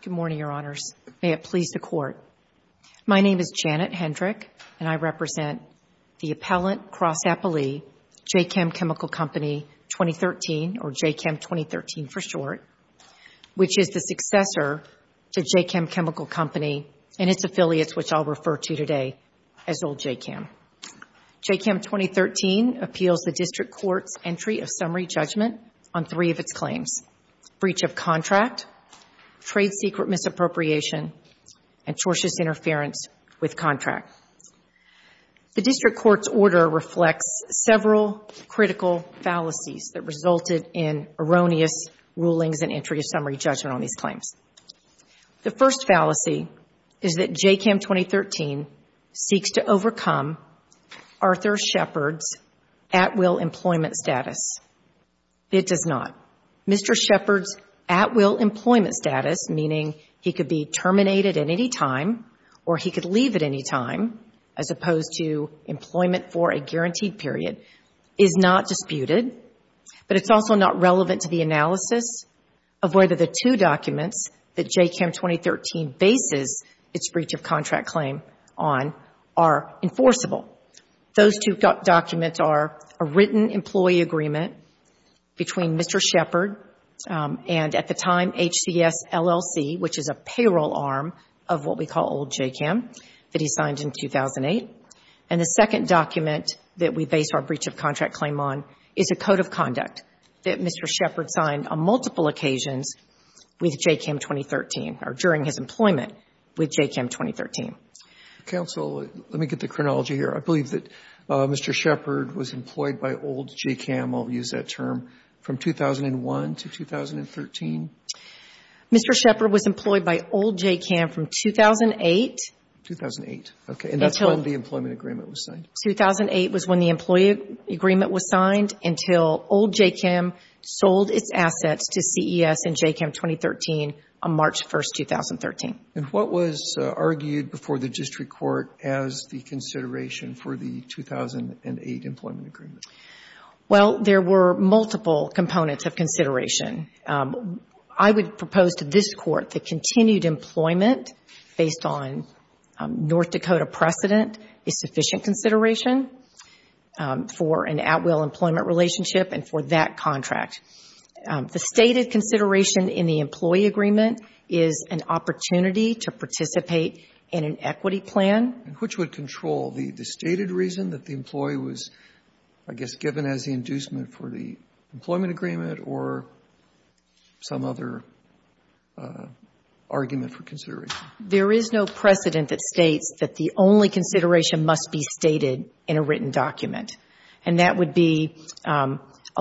Good morning, Your Honors. May it please the Court, my name is Janet Hendrick, and I represent the Appellant Cross Chemical Company 2013, or JCCAM 2013 for short, which is the successor to JCCAM Chemical Company and its affiliates, which I'll refer to today as old JCCAM. JCCAM 2013 appeals the District Court's entry of summary judgment on three of its claims, breach of contract, trade secret misappropriation, and tortious interference with contract. The District Court's order reflects several critical fallacies that resulted in erroneous rulings and entry of summary judgment on these claims. The first fallacy is that JCCAM 2013 seeks to overcome Arthur Shepard's at-will employment status. It does not. Mr. Shepard's at-will employment status, meaning he could be terminated at any time, or he could leave at any time, as opposed to employment for a guaranteed period, is not disputed, but it's also not relevant to the analysis of whether the two documents that JCCAM 2013 bases its breach of contract claim on are enforceable. Those two documents are a written employee agreement between Mr. Shepard and, at the time, old JCCAM that he signed in 2008. And the second document that we base our breach of contract claim on is a code of conduct that Mr. Shepard signed on multiple occasions with JCCAM 2013, or during his employment with JCCAM 2013. Roberts. Counsel, let me get the chronology here. I believe that Mr. Shepard was employed by old JCCAM, I'll use that term, from 2001 to 2013? Mr. Shepard was employed by old JCCAM from 2008. 2008. Okay. And that's when the employment agreement was signed. 2008 was when the employee agreement was signed until old JCCAM sold its assets to CES and JCCAM 2013 on March 1, 2013. And what was argued before the district court as the consideration for the 2008 employment agreement? Well, there were multiple components of consideration. I would propose to this Court that continued employment based on North Dakota precedent is sufficient consideration for an at-will employment relationship and for that contract. The stated consideration in the employee agreement is an opportunity to participate in an equity plan. And which would control? The stated reason that the employee was, I guess, given as the inducement for the employment agreement or some other argument for consideration? There is no precedent that states that the only consideration must be stated in a written document. And that would be a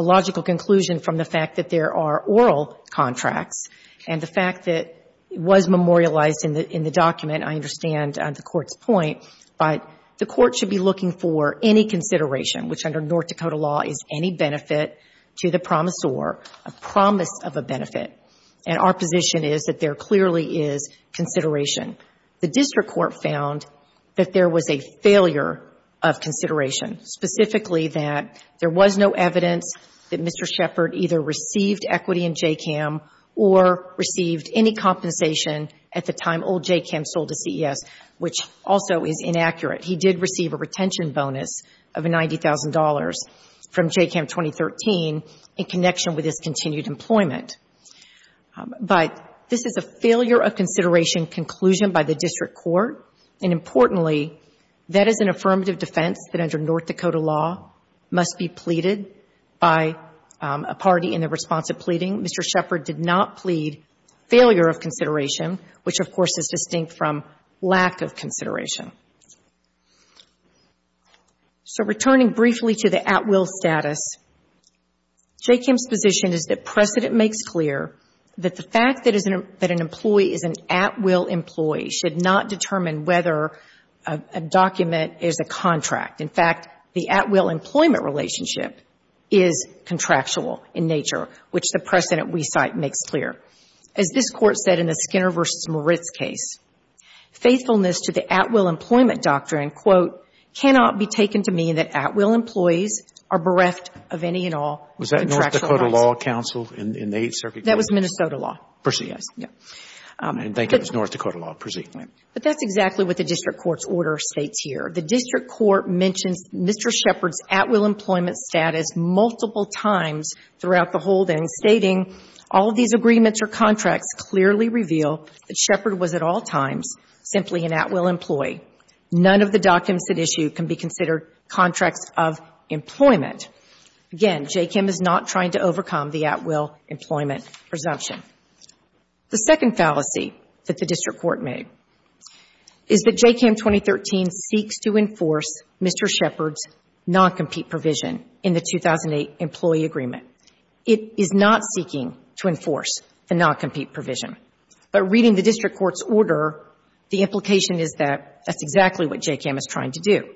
logical conclusion from the fact that there are oral contracts and the fact that it was memorialized in the document, I understand the Court's point. But the Court should be looking for any consideration, which under North Dakota law is any benefit to the promisor, a promise of a benefit. And our position is that there clearly is consideration. The district court found that there was a failure of consideration, specifically that there was no evidence that Mr. Shepard either received equity in J-CAM or received any compensation at the time old J-CAM sold to CES, which also is inaccurate. He did receive a retention bonus of $90,000 from J-CAM 2013 in connection with his continued employment. But this is a failure of consideration conclusion by the district court. And importantly, that is an affirmative defense that under North Dakota law must be pleaded by a party in the response of pleading. Mr. Shepard did not plead failure of consideration, which, of course, is distinct from lack of consideration. So returning briefly to the at-will status, J-CAM's position is that precedent makes clear that the fact that an employee is an at-will employee should not determine whether a document is a contract. In fact, the at-will employment relationship is contractual in nature, which the precedent we cite makes clear. As this Court said in the Skinner v. Moritz case, faithfulness to the at-will employment doctrine, quote, cannot be taken to mean that at-will employees are bereft of any and all contractual rights. That was Minnesota law. Proceed. Yes. Thank you. It was North Dakota law. Proceed. But that's exactly what the district court's order states here. The district court mentions Mr. Shepard's at-will employment status multiple times throughout the holdings, stating, all these agreements or contracts clearly reveal that Shepard was at all times simply an at-will employee. None of the documents at issue can be considered contracts of employment. Again, JCCAM is not trying to overcome the at-will employment presumption. The second fallacy that the district court made is that JCCAM 2013 seeks to enforce Mr. Shepard's non-compete provision in the 2008 employee agreement. It is not seeking to enforce the non-compete provision. But reading the district court's order, the implication is that that's exactly what JCCAM is trying to do.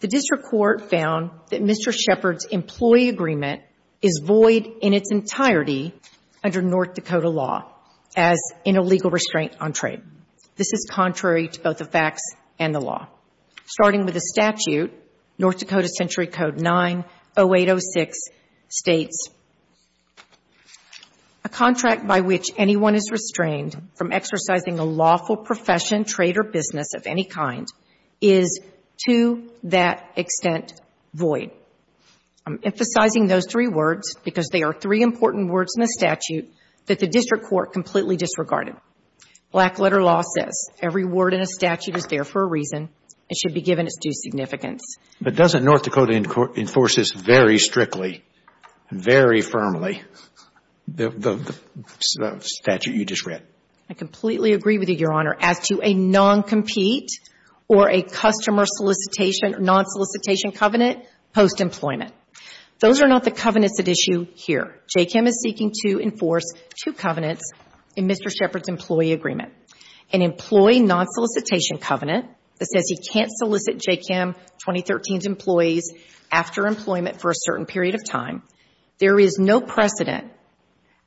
The district court found that Mr. Shepard's employee agreement is void in its entirety under North Dakota law as in a legal restraint on trade. This is contrary to both the facts and the law. Starting with the statute, North Dakota Century Code 90806 states, a contract by which anyone is restrained from exercising a lawful profession, trade, or business of any kind is to that extent void. I'm emphasizing those three words because they are three important words in the statute that the district court completely disregarded. Black letter law says every word in a statute is there for a reason. It should be given its due significance. But doesn't North Dakota enforce this very strictly, very firmly, the statute you just read? I completely agree with you, Your Honor, as to a non-compete or a customer solicitation or non-solicitation covenant post-employment. Those are not the covenants at issue here. JCCAM is seeking to enforce two covenants in Mr. Shepard's employee agreement. An employee non-solicitation covenant that says he can't solicit JCCAM 2013's employees after employment for a certain period of time. There is no precedent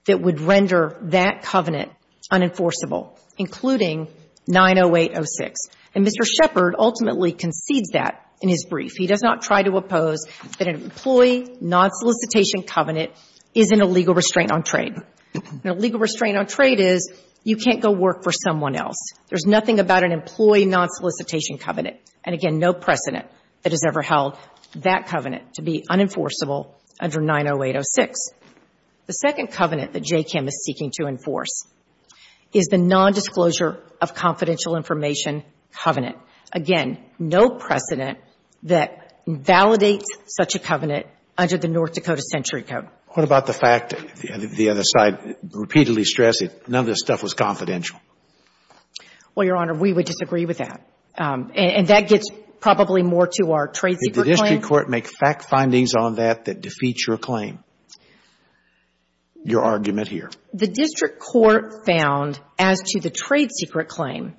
that would render that covenant unenforceable, including 90806. And Mr. Shepard ultimately concedes that in his brief. He does not try to oppose that an employee non-solicitation covenant is an illegal restraint on trade. An illegal restraint on trade is you can't go work for someone else. There's nothing about an employee non-solicitation covenant, and again, no precedent that has ever held that covenant to be unenforceable under 90806. The second covenant that JCCAM is seeking to enforce is the nondisclosure of confidential information covenant. Again, no precedent that validates such a covenant under the North Dakota Century Code. What about the fact the other side repeatedly stressed that none of this stuff was confidential? Well, Your Honor, we would disagree with that. And that gets probably more to our trade secret claim. Did the district court make fact findings on that that defeat your claim, your argument here? The district court found, as to the trade secret claim,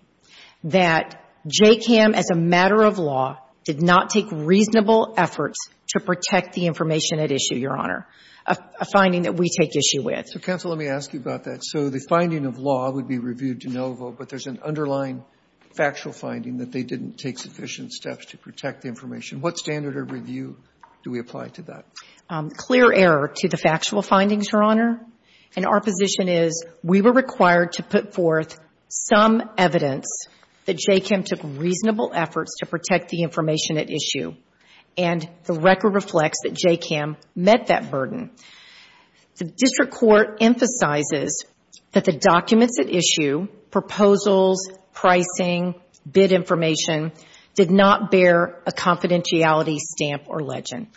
that JCCAM as a matter of law did not take reasonable efforts to protect the information at issue, Your Honor, a finding that we take issue with. So, counsel, let me ask you about that. So the finding of law would be reviewed de novo, but there's an underlying factual finding that they didn't take sufficient steps to protect the information. What standard of review do we apply to that? Clear error to the factual findings, Your Honor. And our position is we were required to put forth some evidence that JCCAM took reasonable efforts to protect the information at issue. And the record reflects that JCCAM met that burden. The district court emphasizes that the documents at issue, proposals, pricing, bid information, did not bear a confidentiality stamp or legend.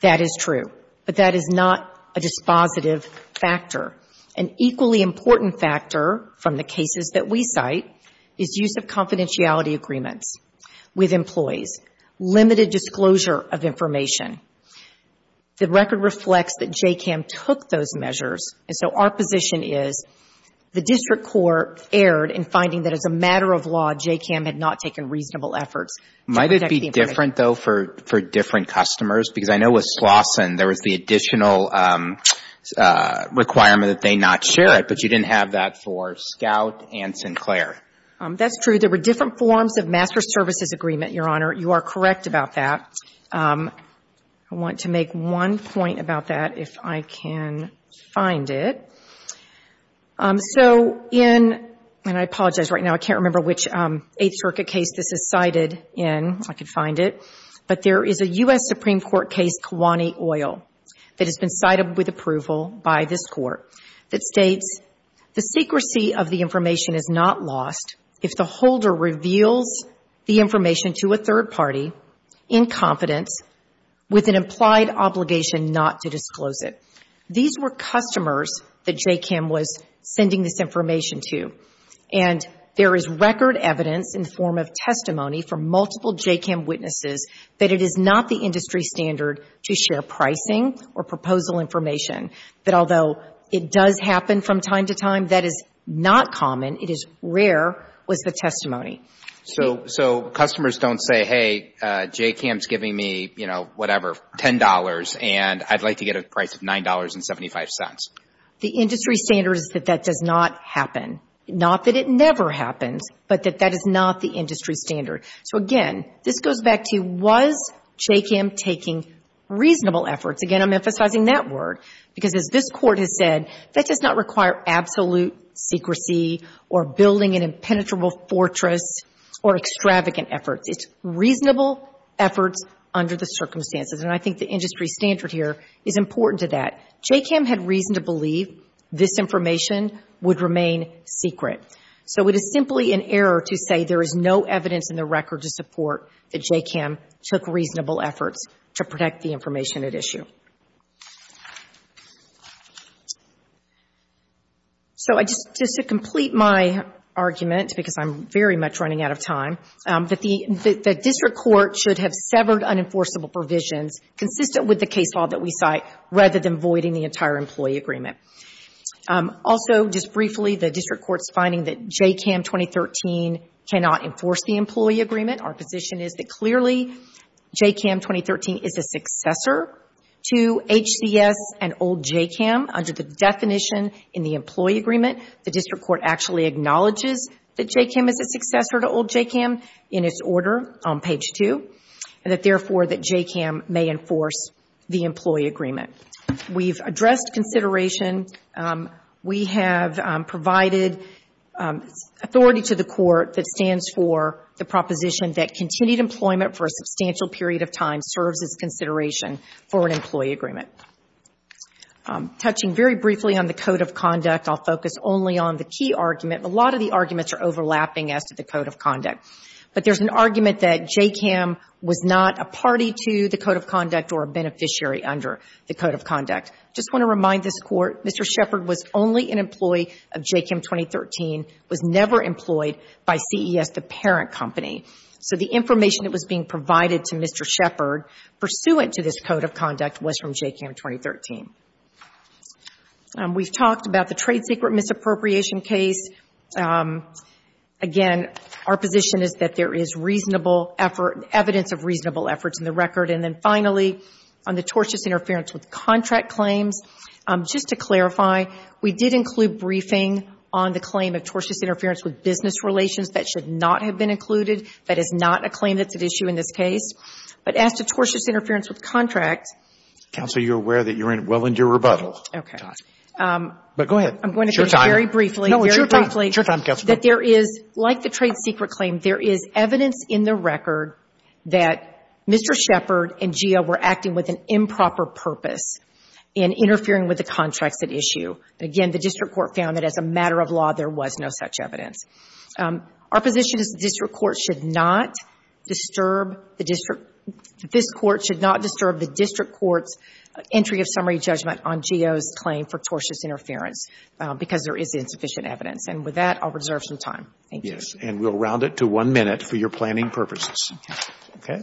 That is true. But that is not a dispositive factor. An equally important factor from the cases that we cite is use of confidentiality agreements with employees, limited disclosure of information. The record reflects that JCCAM took those measures. And so our position is the district court erred in finding that as a matter of law, JCCAM had not taken reasonable efforts to protect the information. Might it be different, though, for different customers? Because I know with Slauson there was the additional requirement that they not share it, but you didn't have that for Scout and Sinclair. That's true. There were different forms of master services agreement, Your Honor. You are correct about that. I want to make one point about that, if I can find it. So in, and I apologize right now, I can't remember which Eighth Circuit case this is cited in. I can find it. But there is a U.S. Supreme Court case, Kiwani Oil, that has been cited with approval by this court, that states the secrecy of the information is not lost if the holder reveals the information to a third party in confidence with an implied obligation not to disclose it. These were customers that JCCAM was sending this information to. And there is record evidence in the form of testimony from multiple JCCAM witnesses that it is not the industry standard to share pricing or proposal information, that although it does happen from time to time, that is not common, it is rare, was the testimony. So customers don't say, hey, JCCAM is giving me, you know, whatever, $10, and I'd like to get a price of $9.75. The industry standard is that that does not happen. Not that it never happens, but that that is not the industry standard. So again, this goes back to, was JCCAM taking reasonable efforts? Again, I'm emphasizing that word. Because as this court has said, that does not require absolute secrecy or building an impenetrable fortress or extravagant efforts. It's reasonable efforts under the circumstances. And I think the industry standard here is important to that. JCCAM had reason to believe this information would remain secret. So it is simply an error to say there is no evidence in the record to support that JCCAM took reasonable efforts to protect the information at issue. Thank you. So just to complete my argument, because I'm very much running out of time, that the district court should have severed unenforceable provisions consistent with the case law that we cite rather than voiding the entire employee agreement. Also, just briefly, the district court's finding that JCCAM 2013 cannot enforce the employee agreement. Our position is that clearly JCCAM 2013 is a successor to HCS and old JCCAM under the definition in the employee agreement. The district court actually acknowledges that JCCAM is a successor to old JCCAM in its order on page 2, and that therefore that JCCAM may enforce the employee agreement. We've addressed consideration. We have provided authority to the court that stands for the proposition that continued employment for a substantial period of time serves as consideration for an employee agreement. Touching very briefly on the code of conduct, I'll focus only on the key argument. A lot of the arguments are overlapping as to the code of conduct. But there's an argument that JCCAM was not a party to the code of conduct or a beneficiary under the code of conduct. Just want to remind this court, Mr. Shepard was only an employee of JCCAM 2013, was never employed by CES, the parent company. So the information that was being provided to Mr. Shepard pursuant to this code of conduct was from JCCAM 2013. We've talked about the trade secret misappropriation case. Again, our position is that there is reasonable effort, evidence of reasonable efforts in the record. And then finally, on the tortious interference with contract claims, just to clarify, we did include briefing on the claim of tortious interference with business relations. That should not have been included. That is not a claim that's at issue in this case. But as to tortious interference with contract. Counsel, you're aware that you're well into your rebuttal. Okay. But go ahead. I'm going to finish very briefly. No, it's your time. It's your time, Counsel. That there is, like the trade secret claim, there is evidence in the record that Mr. Shepard and GEO were acting with an improper purpose in interfering with the contracts at issue. Again, the district court found that as a matter of law, there was no such evidence. Our position is the district court should not disturb the district court's entry of summary judgment on GEO's claim for tortious interference because there is insufficient evidence. And with that, I'll reserve some time. Thank you. Yes. And we'll round it to one minute for your planning purposes. Okay. Okay.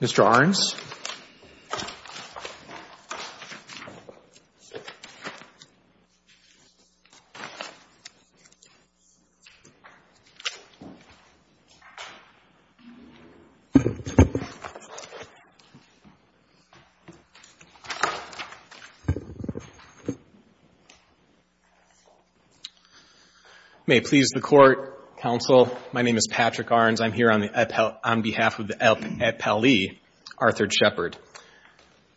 Mr. Arnes. May it please the Court, Counsel, my name is Patrick Arnes. I'm here on behalf of the appellee, Arthur Shepard.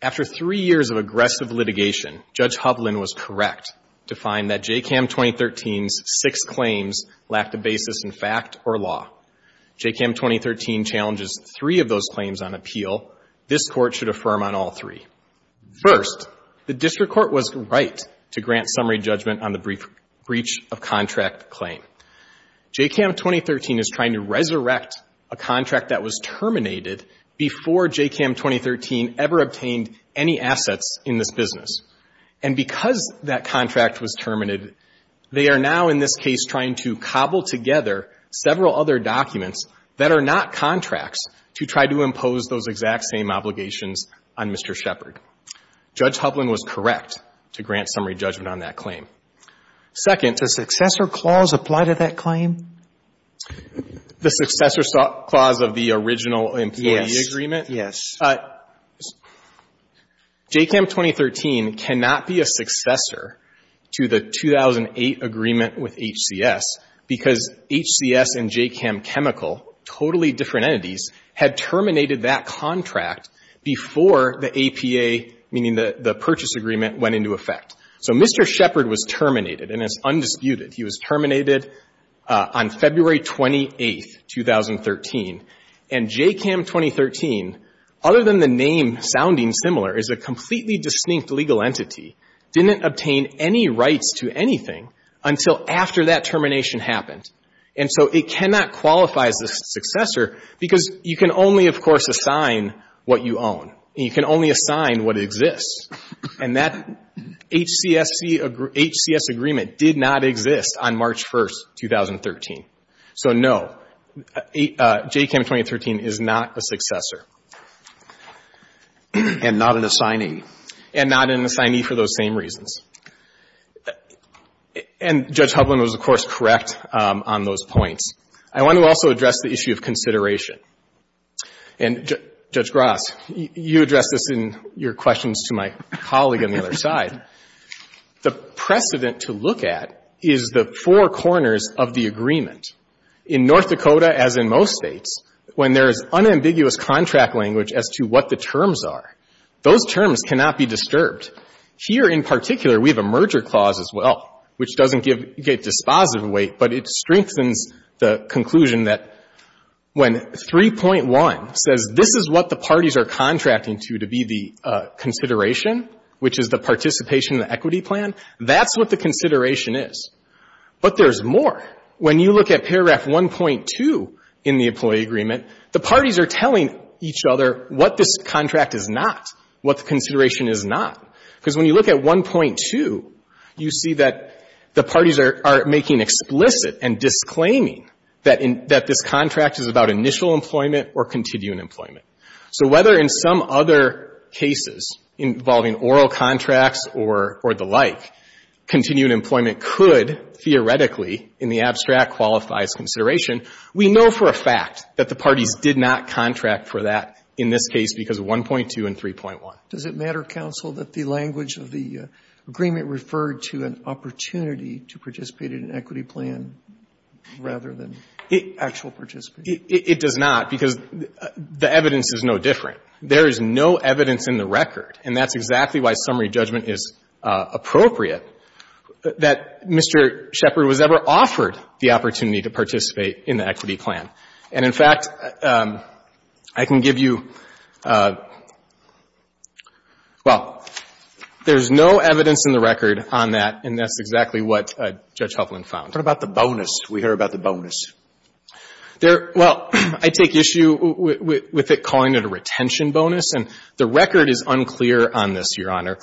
After three years of aggressive litigation, Judge Hovland was correct to find that JCCAM 2013's six claims lacked a basis in fact or law. JCCAM 2013 challenges three of those claims on appeal. This Court should affirm on all three. First, the district court was right to grant summary judgment on the breach of contract claim. JCCAM 2013 is trying to resurrect a contract that was terminated before JCCAM 2013 ever obtained any assets in this business. And because that contract was terminated, they are now in this case trying to cobble together several other documents that are not contracts to try to impose those exact same obligations on Mr. Shepard. Judge Hovland was correct to grant summary judgment on that claim. Second. Does successor clause apply to that claim? The successor clause of the original employee agreement? Yes. Yes. JCCAM 2013 cannot be a successor to the 2008 agreement with HCS because HCS and JCCAM Chemical, totally different entities, had terminated that contract before the APA, meaning the purchase agreement, went into effect. So Mr. Shepard was terminated, and it's undisputed. He was terminated on February 28, 2013. And JCCAM 2013, other than the name sounding similar, is a completely distinct legal entity, didn't obtain any rights to anything until after that termination happened. And so it cannot qualify as a successor because you can only, of course, assign what you own. And you can only assign what exists. And that HCS agreement did not exist on March 1, 2013. So no, JCCAM 2013 is not a successor. And not an assignee. And not an assignee for those same reasons. And Judge Hovland was, of course, correct on those points. I want to also address the issue of consideration. And Judge Gross, you addressed this in your questions to my colleague on the other side. The precedent to look at is the four corners of the agreement. In North Dakota, as in most states, when there is unambiguous contract language as to what the terms are, those terms cannot be disturbed. Here, in particular, we have a merger clause as well, which doesn't get dispositive weight, but it strengthens the conclusion that when 3.1 says this is what the parties are contracting to to be the consideration, which is the participation in the equity plan, that's what the consideration is. But there's more. When you look at paragraph 1.2 in the employee agreement, the parties are telling each other what this contract is not, what the consideration is not. Because when you look at 1.2, you see that the parties are making explicit and disclaiming that this contract is about initial employment or continuing employment. So whether in some other cases involving oral contracts or the like, continuing employment could theoretically, in the abstract, qualify as consideration, we know for a fact that the parties did not contract for that in this case because of 1.2 and 3.1. Does it matter, counsel, that the language of the agreement referred to an opportunity to participate in an equity plan rather than actual participation? It does not, because the evidence is no different. There is no evidence in the record, and that's exactly why summary judgment is appropriate, that Mr. Shepard was ever offered the opportunity to participate in the equity plan. And, in fact, I can give you — well, there's no evidence in the record on that, and that's exactly what Judge Hufflin found. What about the bonus? We heard about the bonus. There — well, I take issue with it calling it a retention bonus. And the record is unclear on this, Your Honor.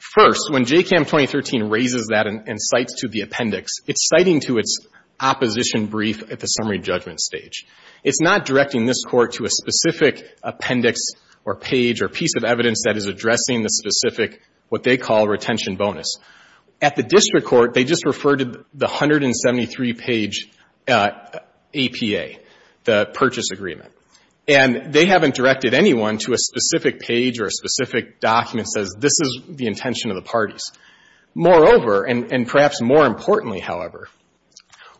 First, when JCCAM 2013 raises that and cites to the appendix, it's citing to its opposition brief at the summary judgment stage. It's not directing this Court to a specific appendix or page or piece of evidence that is addressing the specific what they call retention bonus. At the district court, they just refer to the 173-page APA, the purchase agreement. And they haven't directed anyone to a specific page or a specific document that says this is the intention of the parties. Moreover, and perhaps more importantly, however,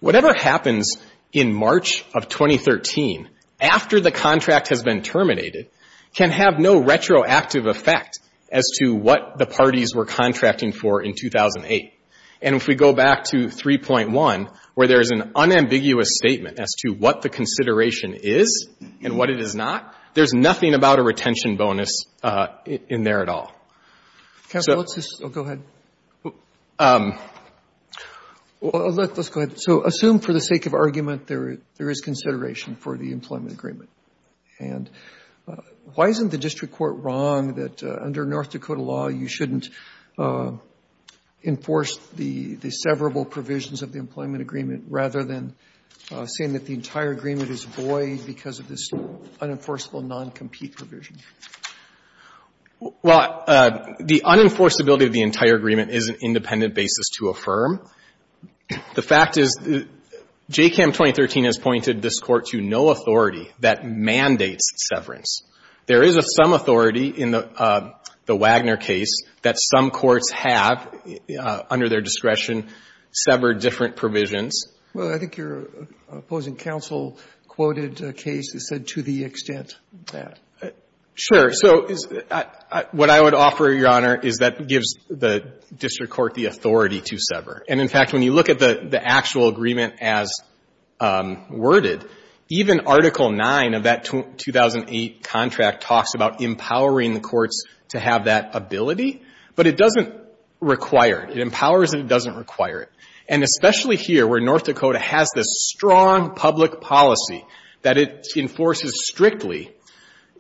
whatever happens in March of 2013 after the contract has been terminated can have no retroactive effect as to what the parties were contracting for in 2008. And if we go back to 3.1, where there is an unambiguous statement as to what the consideration is and what it is not, there's nothing about a retention bonus in there at all. So let's just go ahead. Let's go ahead. So assume for the sake of argument there is consideration for the employment agreement. And why isn't the district court wrong that under North Dakota law you shouldn't enforce the severable provisions of the employment agreement rather than saying that the entire agreement is void because of this unenforceable noncompete provision? Well, the unenforceability of the entire agreement is an independent basis to affirm. The fact is, JCAMM 2013 has pointed this Court to no authority that mandates severance. There is some authority in the Wagner case that some courts have, under their discretion, severed different provisions. Well, I think your opposing counsel quoted a case that said to the extent that. Sure. So what I would offer, Your Honor, is that gives the district court the authority to sever. And, in fact, when you look at the actual agreement as worded, even Article 9 of that 2008 contract talks about empowering the courts to have that ability. But it doesn't require it. It empowers it. It doesn't require it. And especially here where North Dakota has this strong public policy that it enforces strictly,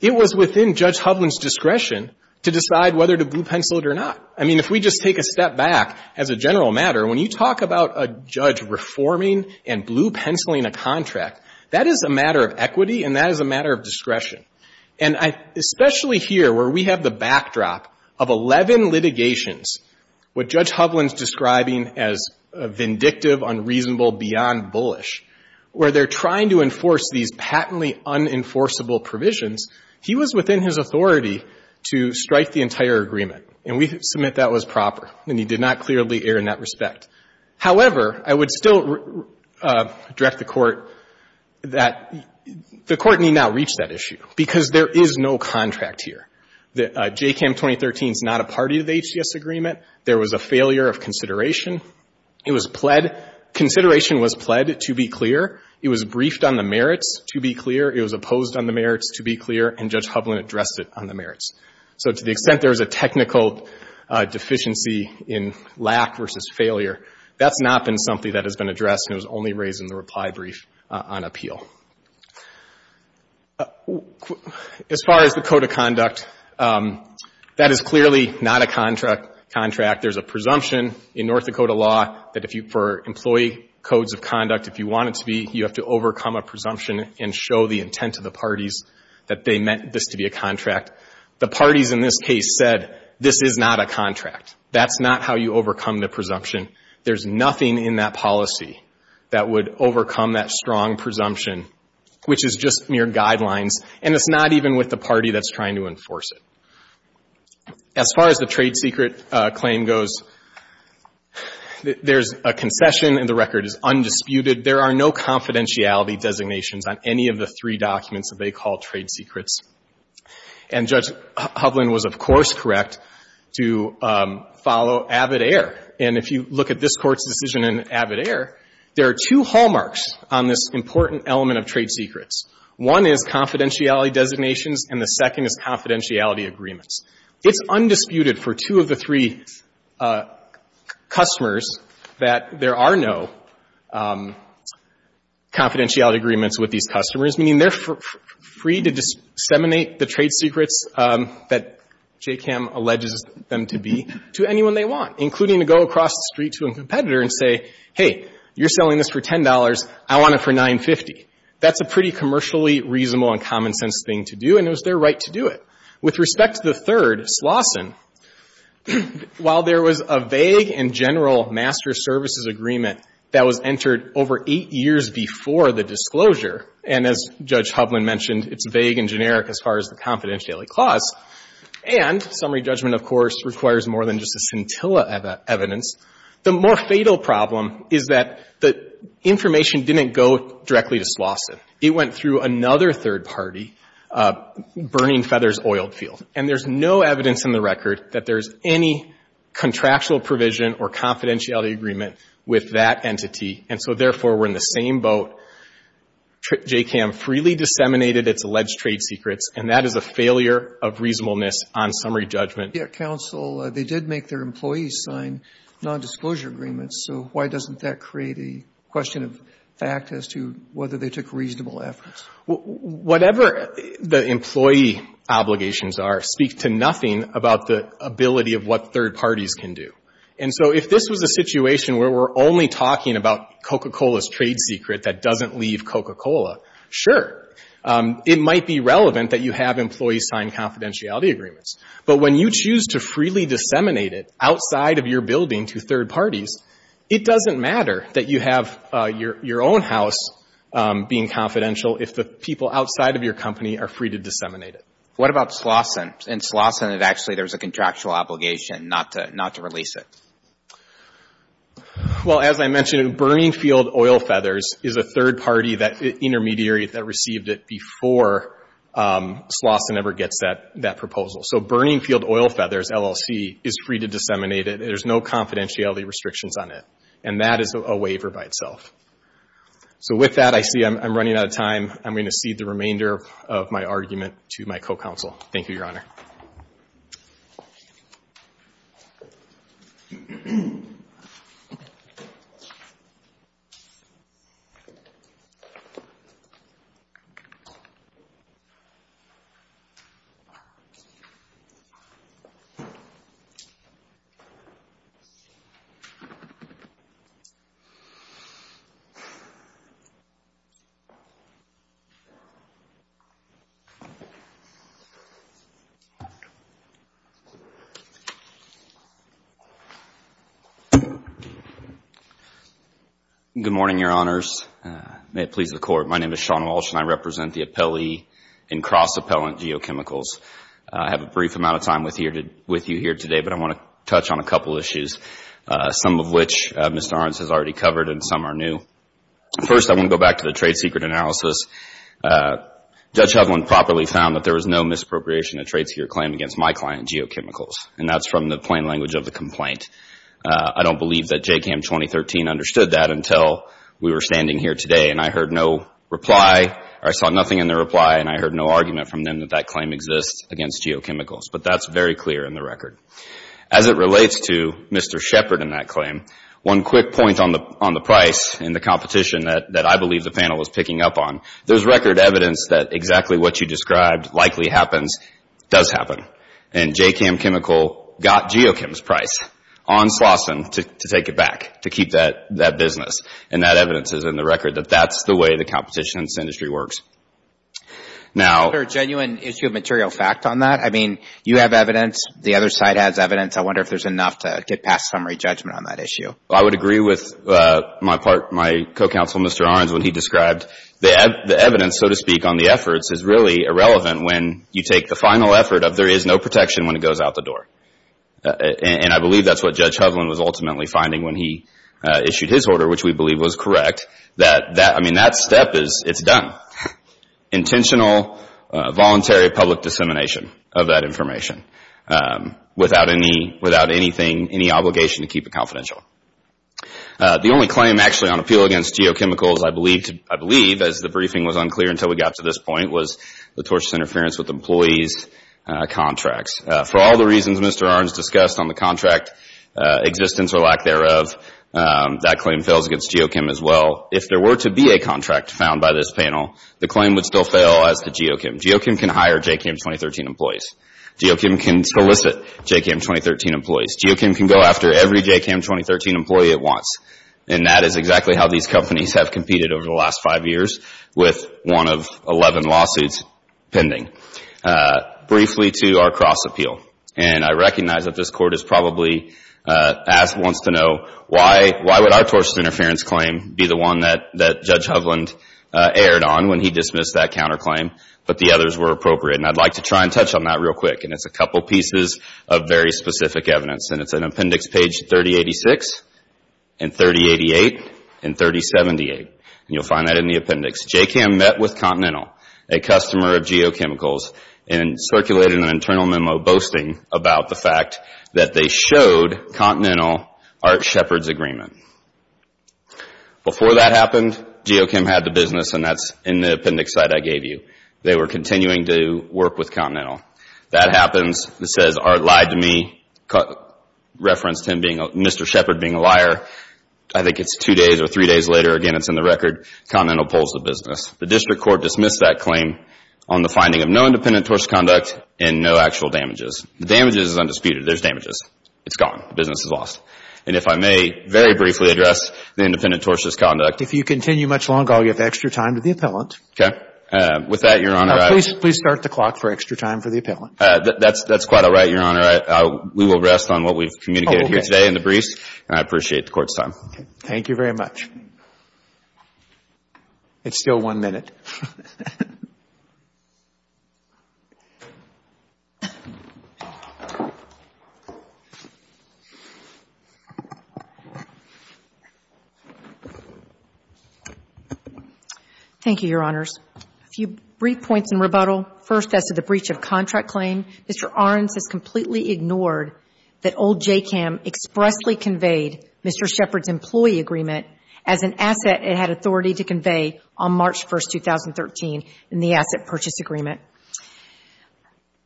it was within Judge Hovland's discretion to decide whether to blue pencil it or not. I mean, if we just take a step back, as a general matter, when you talk about a judge reforming and blue penciling a contract, that is a matter of equity and that is a matter of discretion. And especially here where we have the backdrop of 11 litigations, what Judge Hovland is describing as vindictive, unreasonable, beyond bullish, where they're trying to enforce these patently unenforceable provisions, he was within his authority to strike the entire agreement. And we submit that was proper. And he did not clearly err in that respect. However, I would still direct the Court that the Court need not reach that issue because there is no contract here. The JCAMM 2013 is not a party to the HDS agreement. There was a failure of consideration. It was pled. Consideration was pled, to be clear. It was briefed on the merits, to be clear. It was opposed on the merits, to be clear. And Judge Hovland addressed it on the merits. So to the extent there was a technical deficiency in lack versus failure, that's not been something that has been addressed, and it was only raised in the reply brief on appeal. As far as the code of conduct, that is clearly not a contract. There's a presumption in North Dakota law that if you — for employee codes of conduct, if you want it to be, you have to overcome a presumption and show the intent of the parties that they meant this to be a contract. The parties in this case said, this is not a contract. That's not how you overcome the presumption. There's nothing in that policy that would overcome that strong presumption, which is just mere guidelines, and it's not even with the party that's trying to enforce it. As far as the trade secret claim goes, there's a concession, and the record is undisputed. There are no confidentiality designations on any of the three documents that they call trade secrets. And Judge Hovland was, of course, correct to follow avid air. And if you look at this Court's decision in avid air, there are two hallmarks on this important element of trade secrets. One is confidentiality designations, and the second is confidentiality agreements. It's undisputed for two of the three customers that there are no confidentiality agreements with these customers, meaning they're free to disseminate the trade secrets that JCAM alleges them to be to anyone they want, including to go across the street to a competitor and say, hey, you're selling this for $10. I want it for $9.50. That's a pretty commercially reasonable and common-sense thing to do, and it was their right to do it. With respect to the third, Slauson, while there was a vague and general master services agreement that was entered over eight years before the disclosure, and as Judge Hovland mentioned, it's vague and generic as far as the confidentiality clause, and summary judgment, of course, requires more than just a scintilla evidence, the more fatal problem is that the information didn't go directly to Slauson. It went through another third party, Burning Feathers Oil Field, and there's no evidence in the record that there's any contractual provision or confidentiality agreement with that entity, and so, therefore, we're in the same boat. JCAM freely disseminated its alleged trade secrets, and that is a failure of reasonableness on summary judgment. Roberts, Jr. Counsel, they did make their employees sign nondisclosure agreements, so why doesn't that create a question of fact as to whether they took reasonable efforts? Whatever the employee obligations are speak to nothing about the ability of what third parties can do. And so if this was a situation where we're only talking about Coca-Cola's trade secret that doesn't leave Coca-Cola, sure, it might be relevant that you have employees sign confidentiality agreements, but when you choose to freely disseminate it outside of your building to third parties, it doesn't matter that you have your own house being confidential if the people outside of your company are free to disseminate it. What about Slauson? In Slauson, actually, there's a contractual obligation not to release it. Well, as I mentioned, Burning Field Oil Feathers is a third party, that intermediary that received it before Slauson ever gets that proposal. So Burning Field Oil Feathers LLC is free to disseminate it. There's no confidentiality restrictions on it, and that is a waiver by itself. So with that, I see I'm running out of time. I'm going to cede the remainder of my argument to my co-counsel. Thank you, Your Honor. Good morning, Your Honors. May it please the Court. My name is Sean Walsh, and I represent the appellee in Cross Appellant Geochemicals. I have a brief amount of time with you here today, but I want to touch on a couple of issues, some of which Ms. Norenz has already covered and some are new. First, I want to go back to the trade secret analysis. Judge Hovland properly found that there was no misappropriation of trades here claimed against my client, Geochemicals, and that's from the plain language of the complaint. I don't believe that JCCAM 2013 understood that until we were standing here today, and I heard no reply, or I saw nothing in the reply, and I heard no argument from them that that claim exists against Geochemicals, but that's very clear in the record. As it relates to Mr. Shepard and that claim, one quick point on the price in the competition that I believe the panel is picking up on. There's record evidence that exactly what you described likely happens, does happen, and JCCAM Chemical got Geochem's price on Slauson to take it back, to keep that business, and that evidence is in the record that that's the way the competition industry works. Now... Is there a genuine issue of material fact on that? I mean, you have evidence. The other side has evidence. I wonder if there's enough to get past summary judgment on that issue. I would agree with my part, my co-counsel, Mr. Orens, when he described the evidence, so to speak, on the efforts is really irrelevant when you take the final effort of there is no protection when it goes out the door, and I believe that's what Judge Hovland was ultimately finding when he issued his order, which we believe was correct, I mean, that step is done. Intentional, voluntary public dissemination of that information without any obligation to keep it confidential. The only claim actually on appeal against Geochemicals, I believe, as the briefing was unclear until we got to this point, was the tortious interference with employees' contracts. For all the reasons Mr. Orens discussed on the contract, existence or lack thereof, that claim fails against Geochemicals as well. If there were to be a contract found by this panel, the claim would still fail as to Geochemicals. Geochemicals can hire JCCAM 2013 employees. Geochemicals can solicit JCCAM 2013 employees. Geochemicals can go after every JCCAM 2013 employee it wants. And that is exactly how these companies have competed over the last five years with one of 11 lawsuits pending. Briefly to our cross-appeal. And I recognize that this Court has probably asked and wants to know why would our tortious interference claim be the one that Judge Hovland erred on when he dismissed that counterclaim, but the others were appropriate. And I'd like to try and touch on that real quick. And it's a couple pieces of very specific evidence. And it's in appendix page 3086 and 3088 and 3078. And you'll find that in the appendix. JCCAM met with Continental, a customer of Geochemicals, and circulated an internal memo boasting about the fact that they showed Continental Art Shepard's agreement. Before that happened, Geochem had the business, and that's in the appendix slide I gave you. They were continuing to work with Continental. That happens. It says, Art lied to me, referenced Mr. Shepard being a liar. I think it's two days or three days later. Again, it's in the record. Continental pulls the business. The district court dismissed that claim on the finding of no independent tortious conduct and no actual damages. The damages is undisputed. There's damages. It's gone. The business is lost. And if I may very briefly address the independent tortious conduct. If you continue much longer, I'll give extra time to the appellant. Okay. With that, Your Honor, I. Now, please start the clock for extra time for the appellant. That's quite all right, Your Honor. We will rest on what we've communicated here today in the briefs. And I appreciate the Court's time. Thank you very much. It's still one minute. Thank you, Your Honors. A few brief points in rebuttal. First, as to the breach of contract claim, Mr. Ahrens has completely ignored that old JCCAM expressly conveyed Mr. Shepard's employee agreement as an asset it had authority to convey on March 1, 2013, in the asset purchase agreement.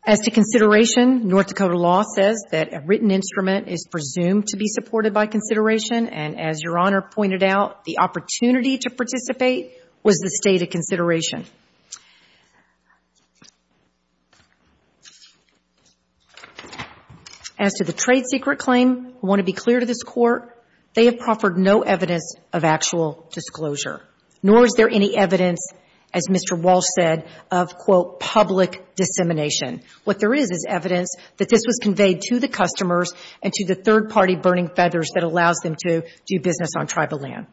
As to consideration, North Dakota law says that a written instrument is presumed to be supported by consideration. And as Your Honor pointed out, the opportunity to participate was the state of consideration. As to the trade secret claim, I want to be clear to this Court, they have proffered no evidence of actual disclosure. Nor is there any evidence, as Mr. Walsh said, of, quote, public dissemination. What there is is evidence that this was conveyed to the customers and to the third-party burning feathers that allows them to do business on tribal land.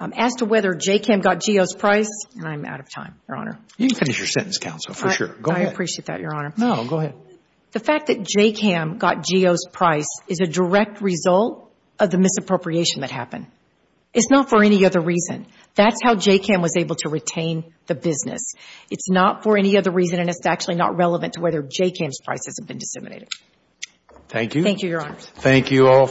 As to whether JCCAM got Geo's price, and I'm out of time, Your Honor. You can finish your sentence, counsel, for sure. Go ahead. I appreciate that, Your Honor. No, go ahead. So the fact that JCCAM got Geo's price is a direct result of the misappropriation that happened. It's not for any other reason. That's how JCCAM was able to retain the business. It's not for any other reason, and it's actually not relevant to whether JCCAM's price has been disseminated. Thank you. Thank you, Your Honors. Thank you all.